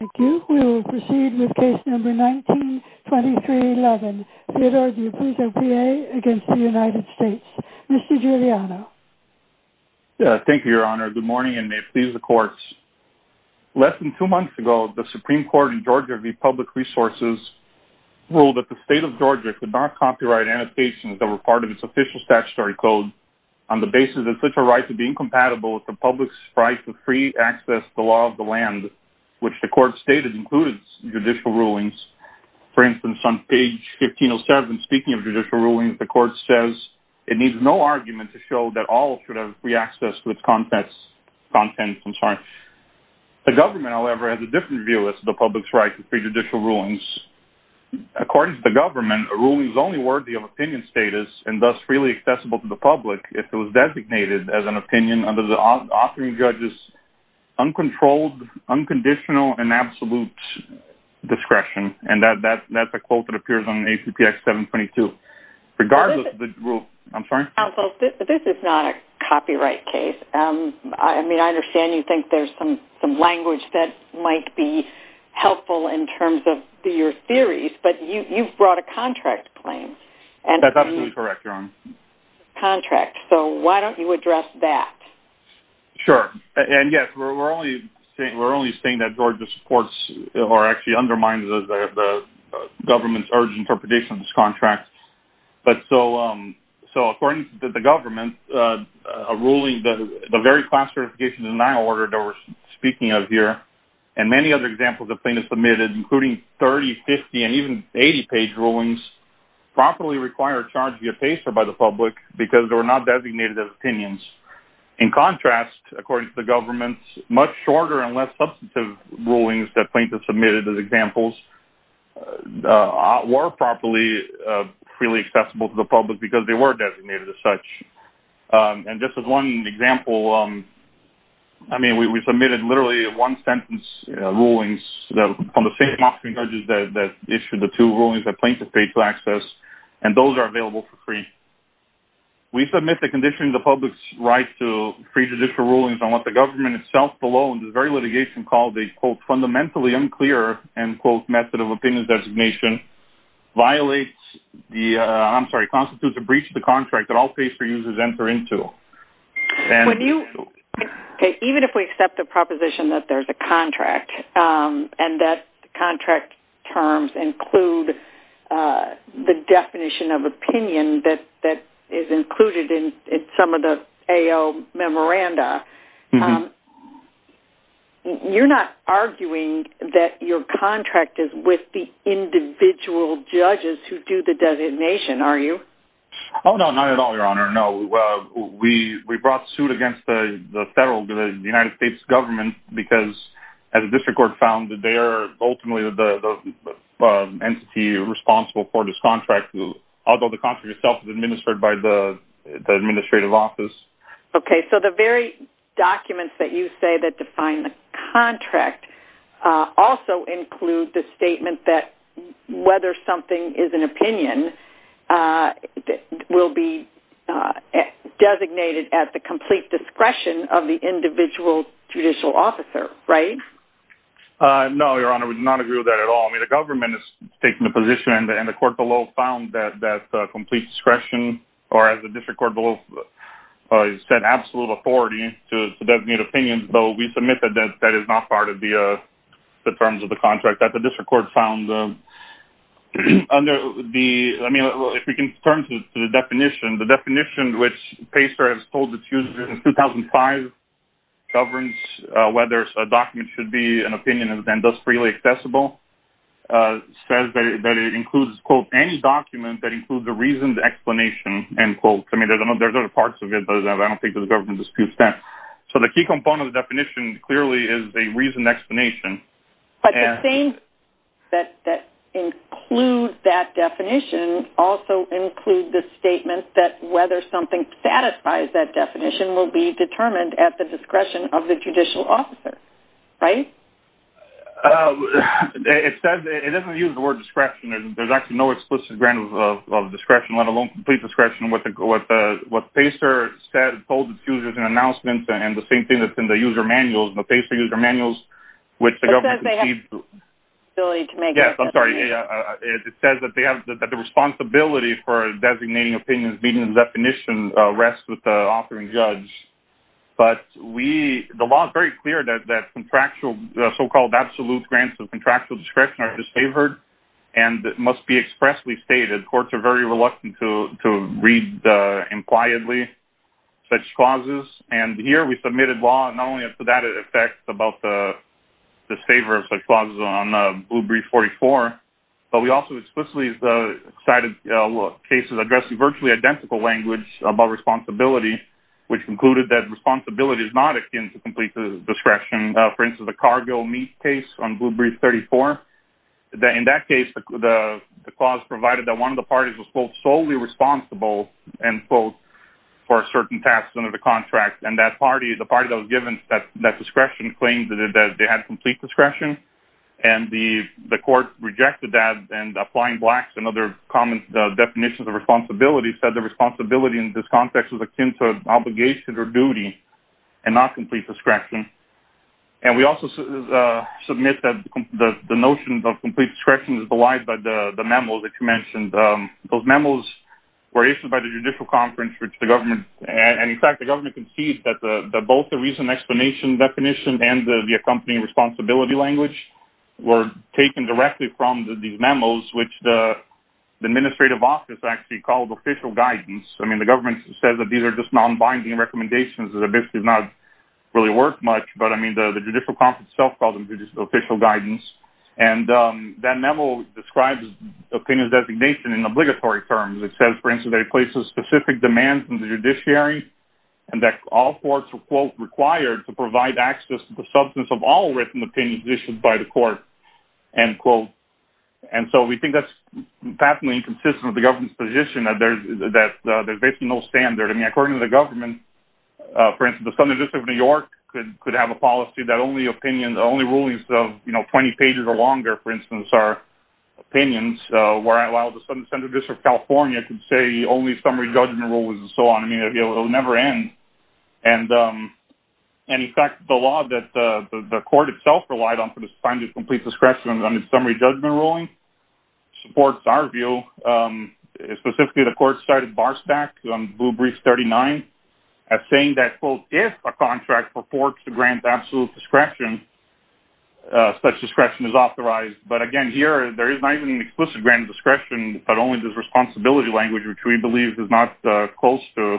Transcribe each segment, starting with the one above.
Thank you. We will proceed with case number 192311. Theodore D'Apuzzo, P.A. against the United States. Mr. Giuliano. Thank you, Your Honor. Good morning, and may it please the courts. Less than two months ago, the Supreme Court in Georgia v. Public Resources ruled that the state of Georgia could not copyright annotations that were part of its official statutory code on the basis that such a right would be incompatible with the public's right to free access to the law of the land, which the court stated included judicial rulings. For instance, on page 1507, speaking of judicial rulings, the court says it needs no argument to show that all should have free access to its contents. The government, however, has a different view as to the public's right to free judicial rulings. According to the government, a ruling is only worthy of opinion status and thus freely accessible to the public if it was designated as an opinion under the authoring judge's uncontrolled, unconditional, and absolute discretion. And that's a quote that appears on ACPS 722. I'm sorry? Counsel, this is not a copyright case. I mean, I understand you think there's some language that might be helpful in terms of your theories, but you've brought a contract claim. That's absolutely correct, Your Honor. Contract, so why don't you address that? Sure, and yes, we're only saying that Georgia supports or actually undermines the government's urgent interpretation of this contract. But so, according to the government, a ruling, the very class certification denial order that we're speaking of here, and many other examples of plaintiffs submitted, including 30, 50, and even 80-page rulings, properly require a charge via PACER by the public because they were not designated as opinions. In contrast, according to the government, much shorter and less substantive rulings that plaintiffs submitted as examples were properly freely accessible to the public because they were designated as such. And just as one example, I mean, we submitted literally one-sentence rulings on the same amount of charges that issued the two rulings that plaintiffs paid to access, and those are available for free. We submit that conditioning the public's right to free judicial rulings on what the government itself below in this very litigation called a, quote, fundamentally unclear, end quote, method of opinion designation violates the, I'm sorry, constitutes a breach of the contract that all PACER users enter into. Even if we accept the proposition that there's a contract and that contract terms include the definition of opinion that is included in some of the AO memoranda, you're not arguing that your contract is with the individual judges who do the designation, are you? Oh, no, not at all, Your Honor, no. We brought suit against the federal, the United States government because as the district court found that they are ultimately the entity responsible for this contract, although the contract itself is administered by the administrative office. Okay, so the very documents that you say that define the contract also include the statement that whether something is an opinion will be designated at the complete discretion of the individual judicial officer, right? No, Your Honor, we do not agree with that at all. I mean, the government is taking a position, and the court below found that complete discretion, or as the district court below said, absolute authority to designate opinions, though we submit that that is not part of the terms of the contract that the district court found. I mean, if we can turn to the definition, the definition which PACER has told its users since 2005 governs whether a document should be an opinion and thus freely accessible, says that it includes, quote, any document that includes a reasoned explanation, end quote. I mean, there's other parts of it, but I don't think the government disputes that. So the key component of the definition clearly is a reasoned explanation. But the things that include that definition also include the statement that whether something satisfies that definition will be determined at the discretion of the judicial officer, right? It doesn't use the word discretion. There's actually no explicit ground of discretion, let alone complete discretion with what PACER said, told its users in announcements, and the same thing that's in the user manuals, the PACER user manuals, which the government... It says they have the ability to make... The so-called absolute grants of contractual discretion are disfavored and must be expressly stated. Courts are very reluctant to read impliedly such clauses, and here we submitted law not only for that effect about the disfavor of such clauses on Blue Brief 44, but we also explicitly cited cases addressing virtually identical language about responsibility, which concluded that responsibility is not akin to complete discretion. For instance, the cargo meat case on Blue Brief 34. In that case, the clause provided that one of the parties was both solely responsible, end quote, for certain tasks under the contract, and the party that was given that discretion claimed that they had complete discretion. And the court rejected that, and applying Black's and other common definitions of responsibility said that responsibility in this context was akin to obligation or duty and not complete discretion. And we also submit that the notion of complete discretion is belied by the memos that you mentioned. Those memos were issued by the judicial conference, which the government... The administrative office actually called official guidance. I mean, the government said that these are just non-binding recommendations. It basically does not really work much, but, I mean, the judicial conference itself called them official guidance. And that memo describes opinion designation in obligatory terms. It says, for instance, that it places specific demands on the judiciary and that all courts are, quote, required to provide access to the substance of all written opinions issued by the court, end quote. And so we think that's patently inconsistent with the government's position that there's basically no standard. I mean, according to the government, for instance, the Southern District of New York could have a policy that only opinions, only rulings of, you know, 20 pages or longer, for instance, are opinions. While the Southern District of California could say only summary judgment rulings and so on. I mean, it'll never end. And, in fact, the law that the court itself relied on for the sign of complete discretion under summary judgment ruling supports our view. Specifically, the court cited Barstack on Blue Brief 39 as saying that, quote, if a contract purports to grant absolute discretion, such discretion is authorized. But, again, here, there is not even an explicit grant of discretion, but only this responsibility language, which we believe is not close to the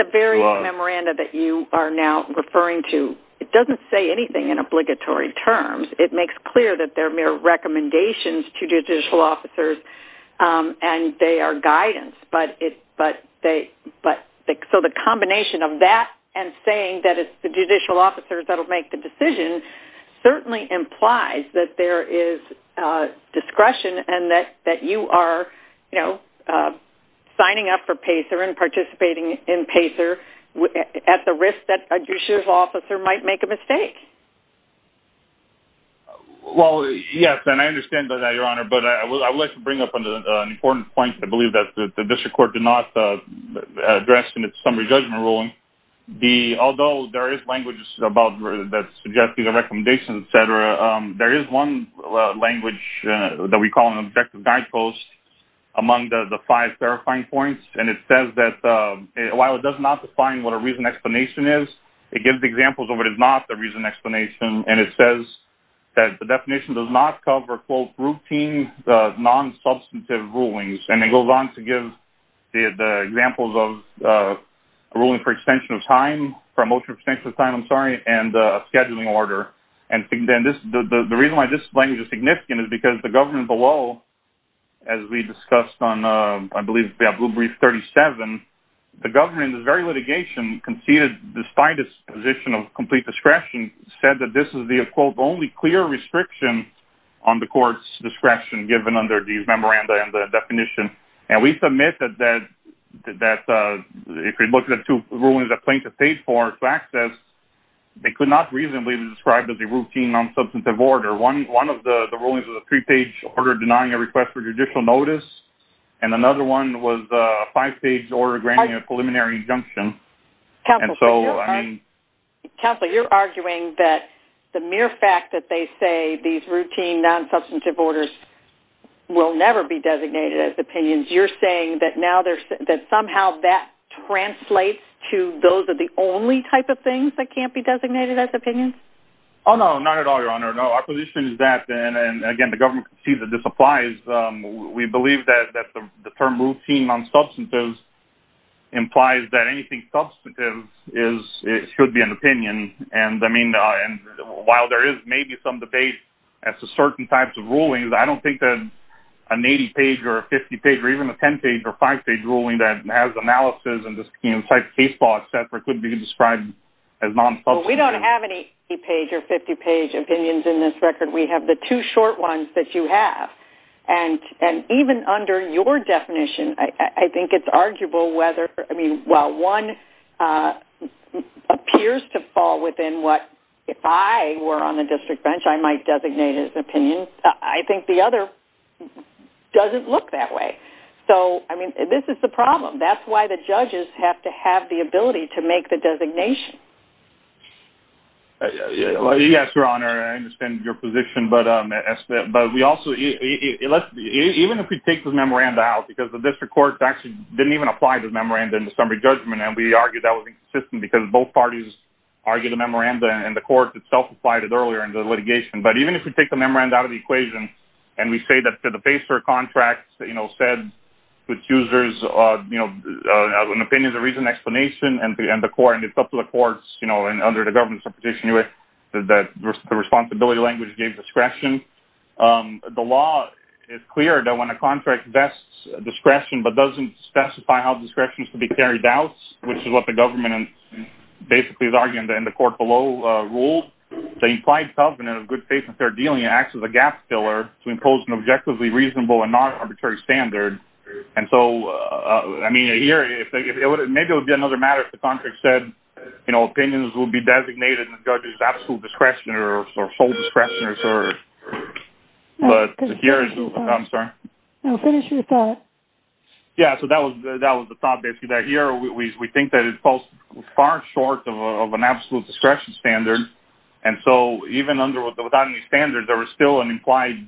law. So the memoranda that you are now referring to, it doesn't say anything in obligatory terms. It makes clear that they're mere recommendations to judicial officers and they are guidance. So the combination of that and saying that it's the judicial officers that'll make the decision certainly implies that there is discretion and that you are, you know, signing up for PACER and participating in PACER at the risk that a judicial officer might make a mistake. Well, yes, and I understand that, Your Honor, but I would like to bring up an important point that I believe that the district court did not address in its summary judgment ruling. Although there is language that suggests these are recommendations, et cetera, there is one language that we call an objective guidepost among the five verifying points, and it says that while it does not define what a reasoned explanation is, it gives examples of what is not the reasoned explanation, and it says that the definition does not cover, quote, routine, non-substantive rulings. And it goes on to give the examples of a ruling for extension of time, promotion of extension of time, I'm sorry, and a scheduling order. And the reason why this language is significant is because the government below, as we discussed on, I believe, Blue Brief 37, the government in this very litigation conceded, despite its position of complete discretion, said that this is the, quote, only clear restriction on the court's discretion given under these memoranda and the definition. And we submit that if we look at the two rulings that plaintiff paid for to access, they could not reasonably be described as a routine, non-substantive order. One of the rulings was a three-page order denying a request for judicial notice, and another one was a five-page order granting a preliminary injunction. Counsel, you're arguing that the mere fact that they say these routine, non-substantive orders will never be designated as opinions, you're saying that somehow that translates to those are the only type of things that can't be designated as opinions? Oh, no, not at all, Your Honor. No, our position is that, and again, the government concedes that this applies, we believe that the term routine, non-substantive implies that anything substantive should be an opinion. And, I mean, while there is maybe some debate as to certain types of rulings, I don't think that an 80-page or a 50-page or even a 10-page or five-page ruling that has analysis and this case law, et cetera, could be described as non-substantive. Well, we don't have any 80-page or 50-page opinions in this record. We have the two short ones that you have. And even under your definition, I think it's arguable whether, I mean, while one appears to fall within what, if I were on the district bench, I might designate as an opinion, I think the other doesn't look that way. So, I mean, this is the problem. That's why the judges have to have the ability to make the designation. Yes, Your Honor, I understand your position, but we also, even if we take the memoranda out, because the district court actually didn't even apply the memoranda in the summary judgment and we argued that was inconsistent because both parties argued the memoranda and the court itself applied it earlier in the litigation. But even if we take the memoranda out of the equation and we say that the PACER contract said the accuser's opinion is a reason and explanation and it's up to the courts and under the government's proposition that the responsibility language gave discretion, the law is clear that when a contract vests discretion but doesn't specify how discretion is to be carried out, which is what the government basically is arguing in the court below rules, the implied covenant of good faith and fair dealing acts as a gap filler to impose an objectively reasonable and non-arbitrary standard. And so, I mean, here, maybe it would be another matter if the contract said, you know, opinions would be designated in the judge's absolute discretion or sole discretion. I'm sorry. No, finish your thought. Yeah, so that was the thought, basically, that here we think that it falls far short of an absolute discretion standard. And so, even without any standards, there was still an implied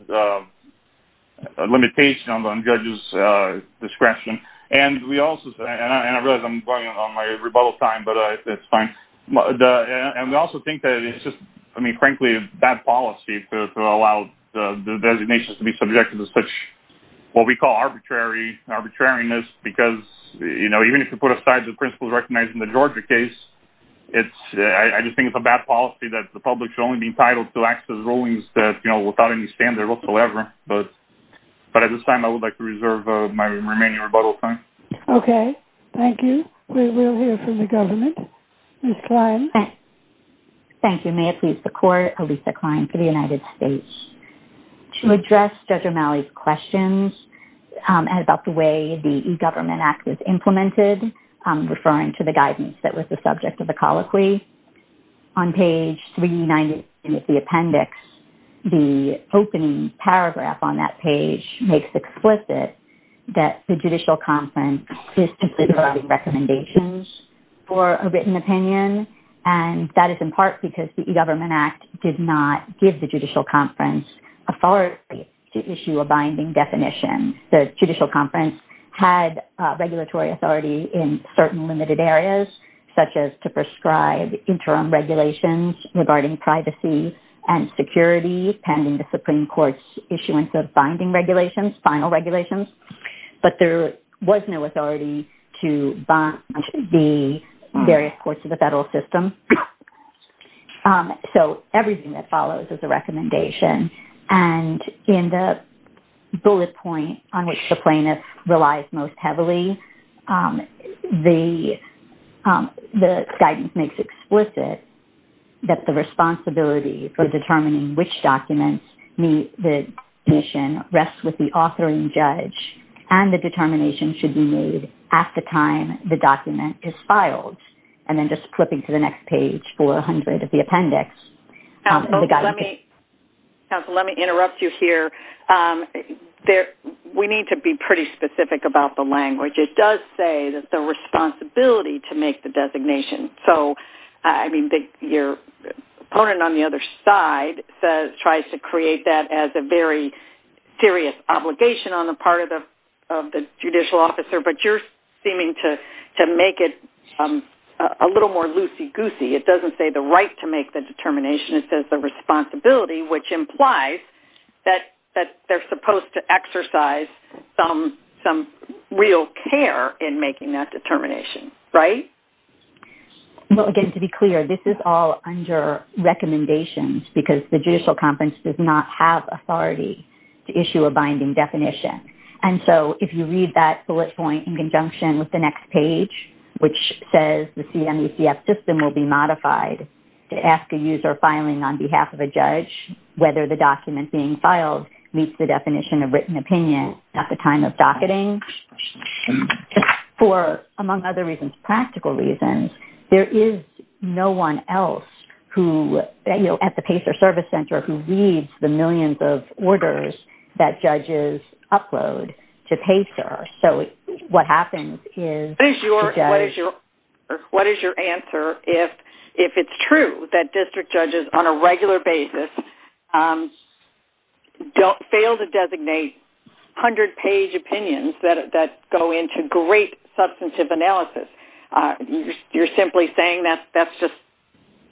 limitation on the judge's discretion. And I realize I'm going on my rebuttal time, but that's fine. And we also think that it's just, I mean, frankly, a bad policy to allow the designations to be subjected to such what we call arbitrariness because, you know, even if you put aside the principles recognized in the Georgia case, I just think it's a bad policy that the public should only be entitled to access rulings that, you know, without any standard whatsoever. But at this time, I would like to reserve my remaining rebuttal time. Okay, thank you. We will hear from the government. Ms. Klein. Thank you. May it please the Court, Alisa Klein for the United States. To address Judge O'Malley's questions about the way the E-Government Act was implemented, referring to the guidance that was the subject of the colloquy, on page 390 of the appendix, the opening paragraph on that page makes explicit that the judicial conference is simply providing recommendations for a written opinion. And that is in part because the E-Government Act did not give the judicial conference authority to issue a binding definition. The judicial conference had regulatory authority in certain limited areas, such as to prescribe interim regulations regarding privacy and security pending the Supreme Court's issuance of binding regulations, final regulations. But there was no authority to bind the various courts of the federal system. So everything that follows is a recommendation. And in the bullet point on which the plaintiff relies most heavily, the guidance makes explicit that the responsibility for determining which documents meet the definition rests with the authoring judge and the determination should be made at the time the document is filed. And then just flipping to the next page, 400 of the appendix. Counsel, let me interrupt you here. We need to be pretty specific about the language. It does say the responsibility to make the designation. So, I mean, your opponent on the other side tries to create that as a very serious obligation on the part of the judicial officer. But you're seeming to make it a little more loosey-goosey. It doesn't say the right to make the determination. It says the responsibility, which implies that they're supposed to exercise some real care in making that determination. Right? Well, again, to be clear, this is all under recommendations because the judicial conference does not have authority to issue a binding definition. And so if you read that bullet point in conjunction with the next page, which says the CMECF system will be modified to ask a user filing on behalf of a judge whether the document being filed meets the definition of written opinion at the time of docketing. For, among other reasons, practical reasons, there is no one else at the PACER Service Center who reads the millions of orders that judges upload to PACER. What is your answer if it's true that district judges on a regular basis fail to designate 100-page opinions that go into great substantive analysis? You're simply saying that's just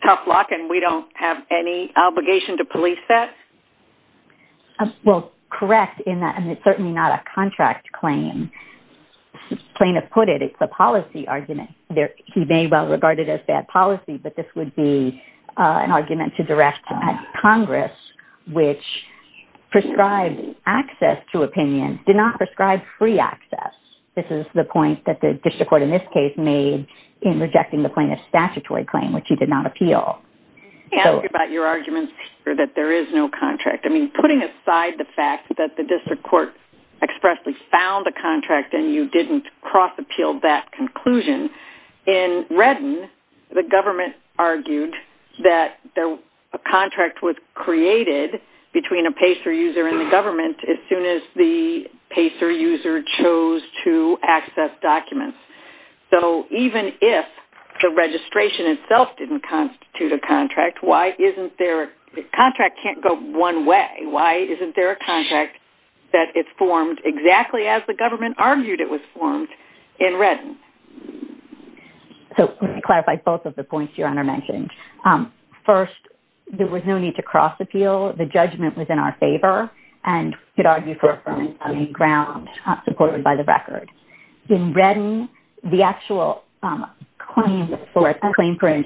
tough luck and we don't have any obligation to police that? Well, correct in that it's certainly not a contract claim. Plaintiff put it, it's a policy argument. He may well regard it as bad policy, but this would be an argument to direct Congress, which prescribes access to opinions, did not prescribe free access. This is the point that the district court in this case made in rejecting the plaintiff's statutory claim, which he did not appeal. Let me ask you about your argument that there is no contract. I mean, putting aside the fact that the district court expressly found a contract and you didn't cross-appeal that conclusion, in Redden, the government argued that a contract was created between a PACER user and the government as soon as the PACER user chose to access documents. So, even if the registration itself didn't constitute a contract, why isn't there... A contract can't go one way. Why isn't there a contract that is formed exactly as the government argued it was formed in Redden? So, let me clarify both of the points Your Honor mentioned. First, there was no need to cross-appeal. The judgment was in our favor, and we could argue for a firm ground supported by the record. In Redden, the actual claim for injunction,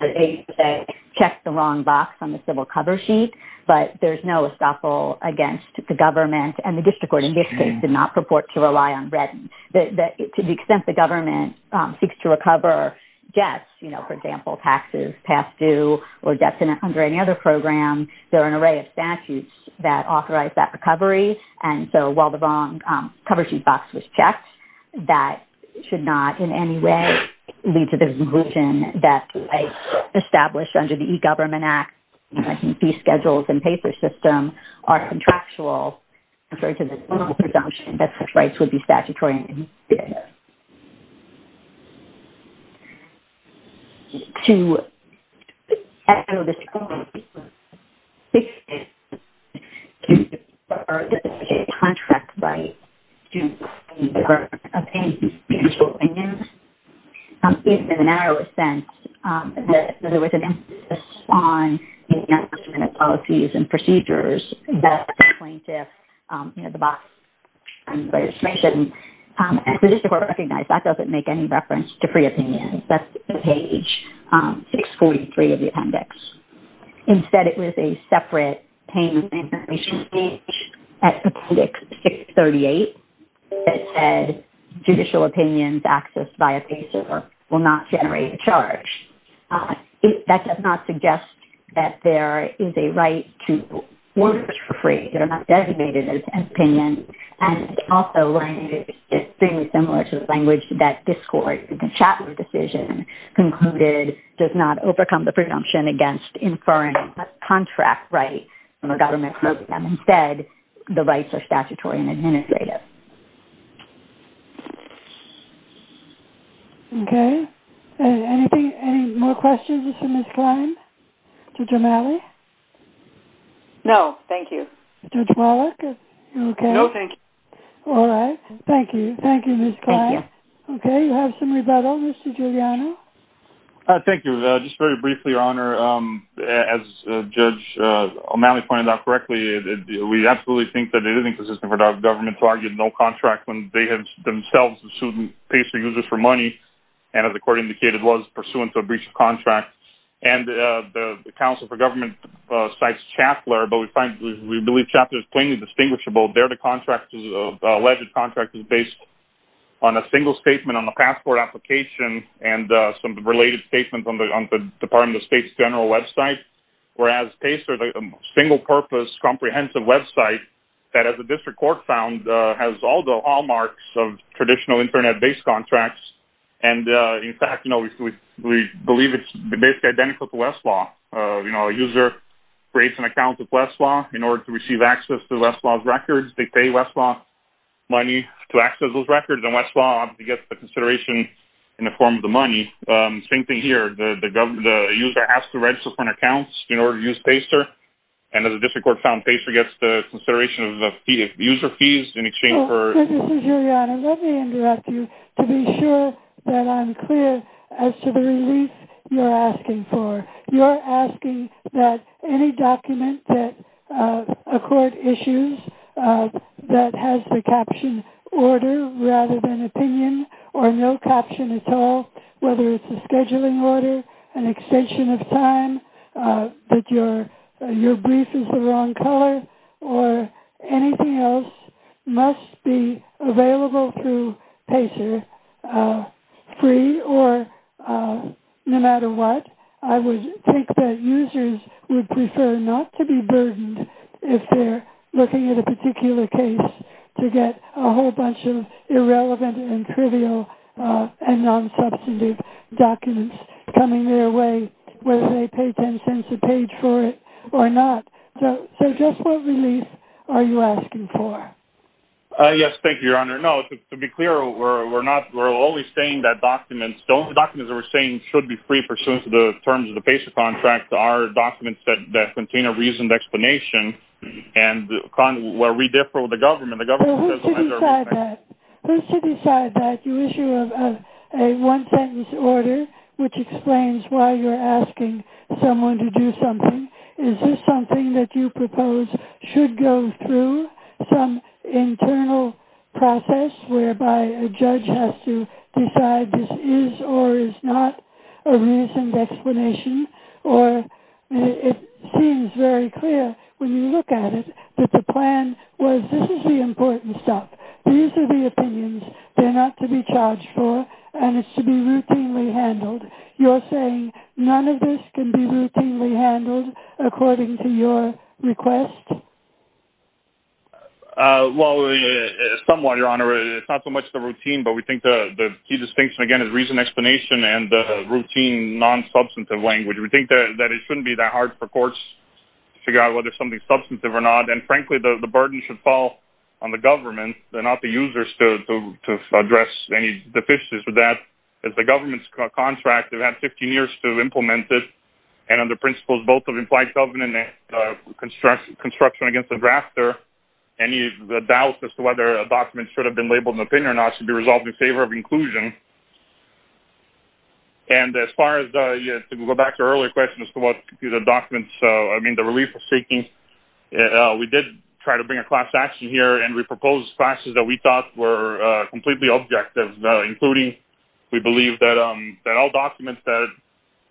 they checked the wrong box on the civil cover sheet, but there's no estoppel against the government and the district court in this case did not purport to rely on Redden. To the extent the government seeks to recover debts, you know, for example, taxes past due or debts under any other program, there are an array of statutes that authorize that recovery. And so, while the wrong cover sheet box was checked, that should not in any way lead to the conclusion that rights established under the E-Government Act, these schedules and paper system are contractual, referring to the presumption that such rights would be statutory in the E-Government Act. To echo this point, this is a contract right due to the E-Government Act, in the narrowest sense, that there was an emphasis on the instrument of policies and procedures that the plaintiff, you know, the box, and the district court recognized that doesn't make any reference to free opinions. That's on page 643 of the appendix. Instead, it was a separate payment information page at appendix 638 that said, judicial opinions accessed via pay server will not generate a charge. That does not suggest that there is a right to orders for free that are not designated as opinions. And also, it's extremely similar to the language that this court, the Chapman decision concluded, does not overcome the presumption against inferring a contract right from a government program. Instead, the rights are statutory and administrative. Okay. Okay. Anything, any more questions for Ms. Klein, Judge O'Malley? No, thank you. Judge Wallach, are you okay? No, thank you. All right. Thank you. Thank you, Ms. Klein. Thank you. You have some rebuttal, Mr. Giuliano? Thank you. Just very briefly, Your Honor, as Judge O'Malley pointed out correctly, we absolutely think that it is inconsistent for the government to argue no contract when they themselves have sued Pacer Users for money, and as the court indicated, was pursuant to a breach of contract. And the counsel for government cites Chapler, but we believe Chapler is plainly distinguishable. There, the alleged contract is based on a single statement on the passport application and some related statements on the Department of State's general website, whereas Pacer is a single-purpose comprehensive website that, as the district court found, has all the hallmarks of traditional Internet-based contracts. And, in fact, you know, we believe it's basically identical to Westlaw. You know, a user creates an account with Westlaw in order to receive access to Westlaw's records. They pay Westlaw money to access those records, and Westlaw gets the consideration in the form of the money. Same thing here. The user has to register for an account in order to use Pacer, and as the district court found, Pacer gets the consideration of user fees in exchange for- Your Honor, let me interrupt you to be sure that I'm clear as to the relief you're asking for. You're asking that any document that a court issues that has the captioned order rather than opinion or no caption at all, whether it's a scheduling order, an extension of time, that your brief is the wrong color, or anything else must be available through Pacer free or no matter what. I would think that users would prefer not to be burdened if they're looking at a particular case to get a whole bunch of irrelevant and trivial and non-substantive documents coming their way, whether they pay 10 cents a page for it or not. So just what relief are you asking for? Yes, thank you, Your Honor. No, to be clear, we're not-we're always saying that documents- those documents that we're saying should be free pursuant to the terms of the Pacer contract are documents that contain a reasoned explanation and where we differ with the government. Well, who's to decide that? Who's to decide that you issue a one-sentence order which explains why you're asking someone to do something? Is this something that you propose should go through some internal process whereby a judge has to decide whether this is or is not a reasoned explanation? Or it seems very clear when you look at it that the plan was this is the important stuff. These are the opinions. They're not to be charged for, and it's to be routinely handled. You're saying none of this can be routinely handled according to your request? Well, somewhat, Your Honor. It's not so much the routine, but we think the key distinction, again, is reasoned explanation and the routine non-substantive language. We think that it shouldn't be that hard for courts to figure out whether something's substantive or not, and frankly, the burden should fall on the government and not the users to address any deficiencies with that. As the government's contract, they've had 15 years to implement it, and under principles both of implied government and construction against the drafter, any doubt as to whether a document should have been labeled an opinion or not should be resolved in favor of inclusion. And as far as to go back to our earlier question as to what the documents, I mean, the relief was seeking, we did try to bring a class action here, and we proposed classes that we thought were completely objective, including we believe that all documents that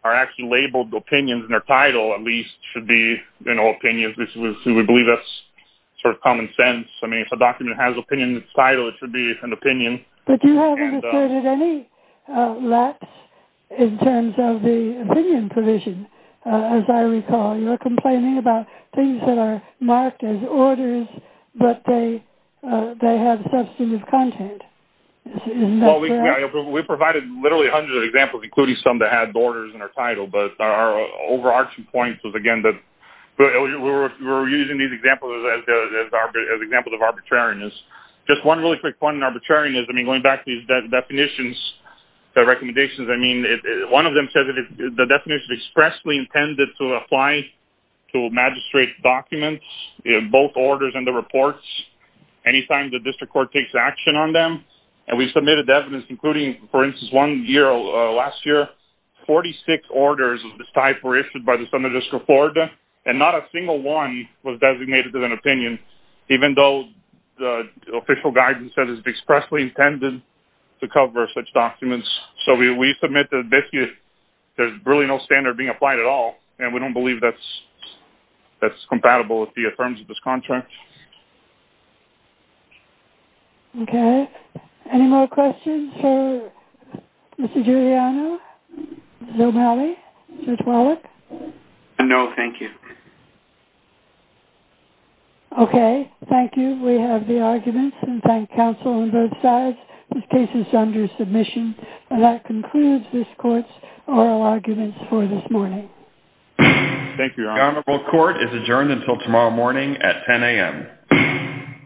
are actually labeled opinions in their title, at least, should be, you know, opinions. We believe that's sort of common sense. I mean, if a document has opinion in its title, it should be an opinion. But you haven't asserted any lapse in terms of the opinion provision, as I recall. You're complaining about things that are marked as orders, but they have substantive content. Well, we provided literally hundreds of examples, including some that had orders in their title, but our overarching point was, again, that we were using these examples as examples of arbitrariness. Just one really quick point on arbitrariness, I mean, going back to these definitions, the recommendations, I mean, one of them said that the definition expressly intended to apply to magistrate documents, both orders and the reports, any time the district court takes action on them. And we submitted evidence, including, for instance, one year, last year, 46 orders of this type were issued by the Senate District of Florida, and not a single one was designated as an opinion, even though the official guidance says it's expressly intended to cover such documents. So we submit that basically there's really no standard being applied at all, and we don't believe that's compatible with the terms of this contract. Okay. Any more questions for Mr. Giuliano, Zomali, Sir Twalik? No, thank you. Okay. Thank you. We have the arguments, and thank counsel on both sides. This case is under submission, and that concludes this court's oral arguments for this morning. Thank you, Your Honor. The honorable court is adjourned until tomorrow morning at 10 a.m.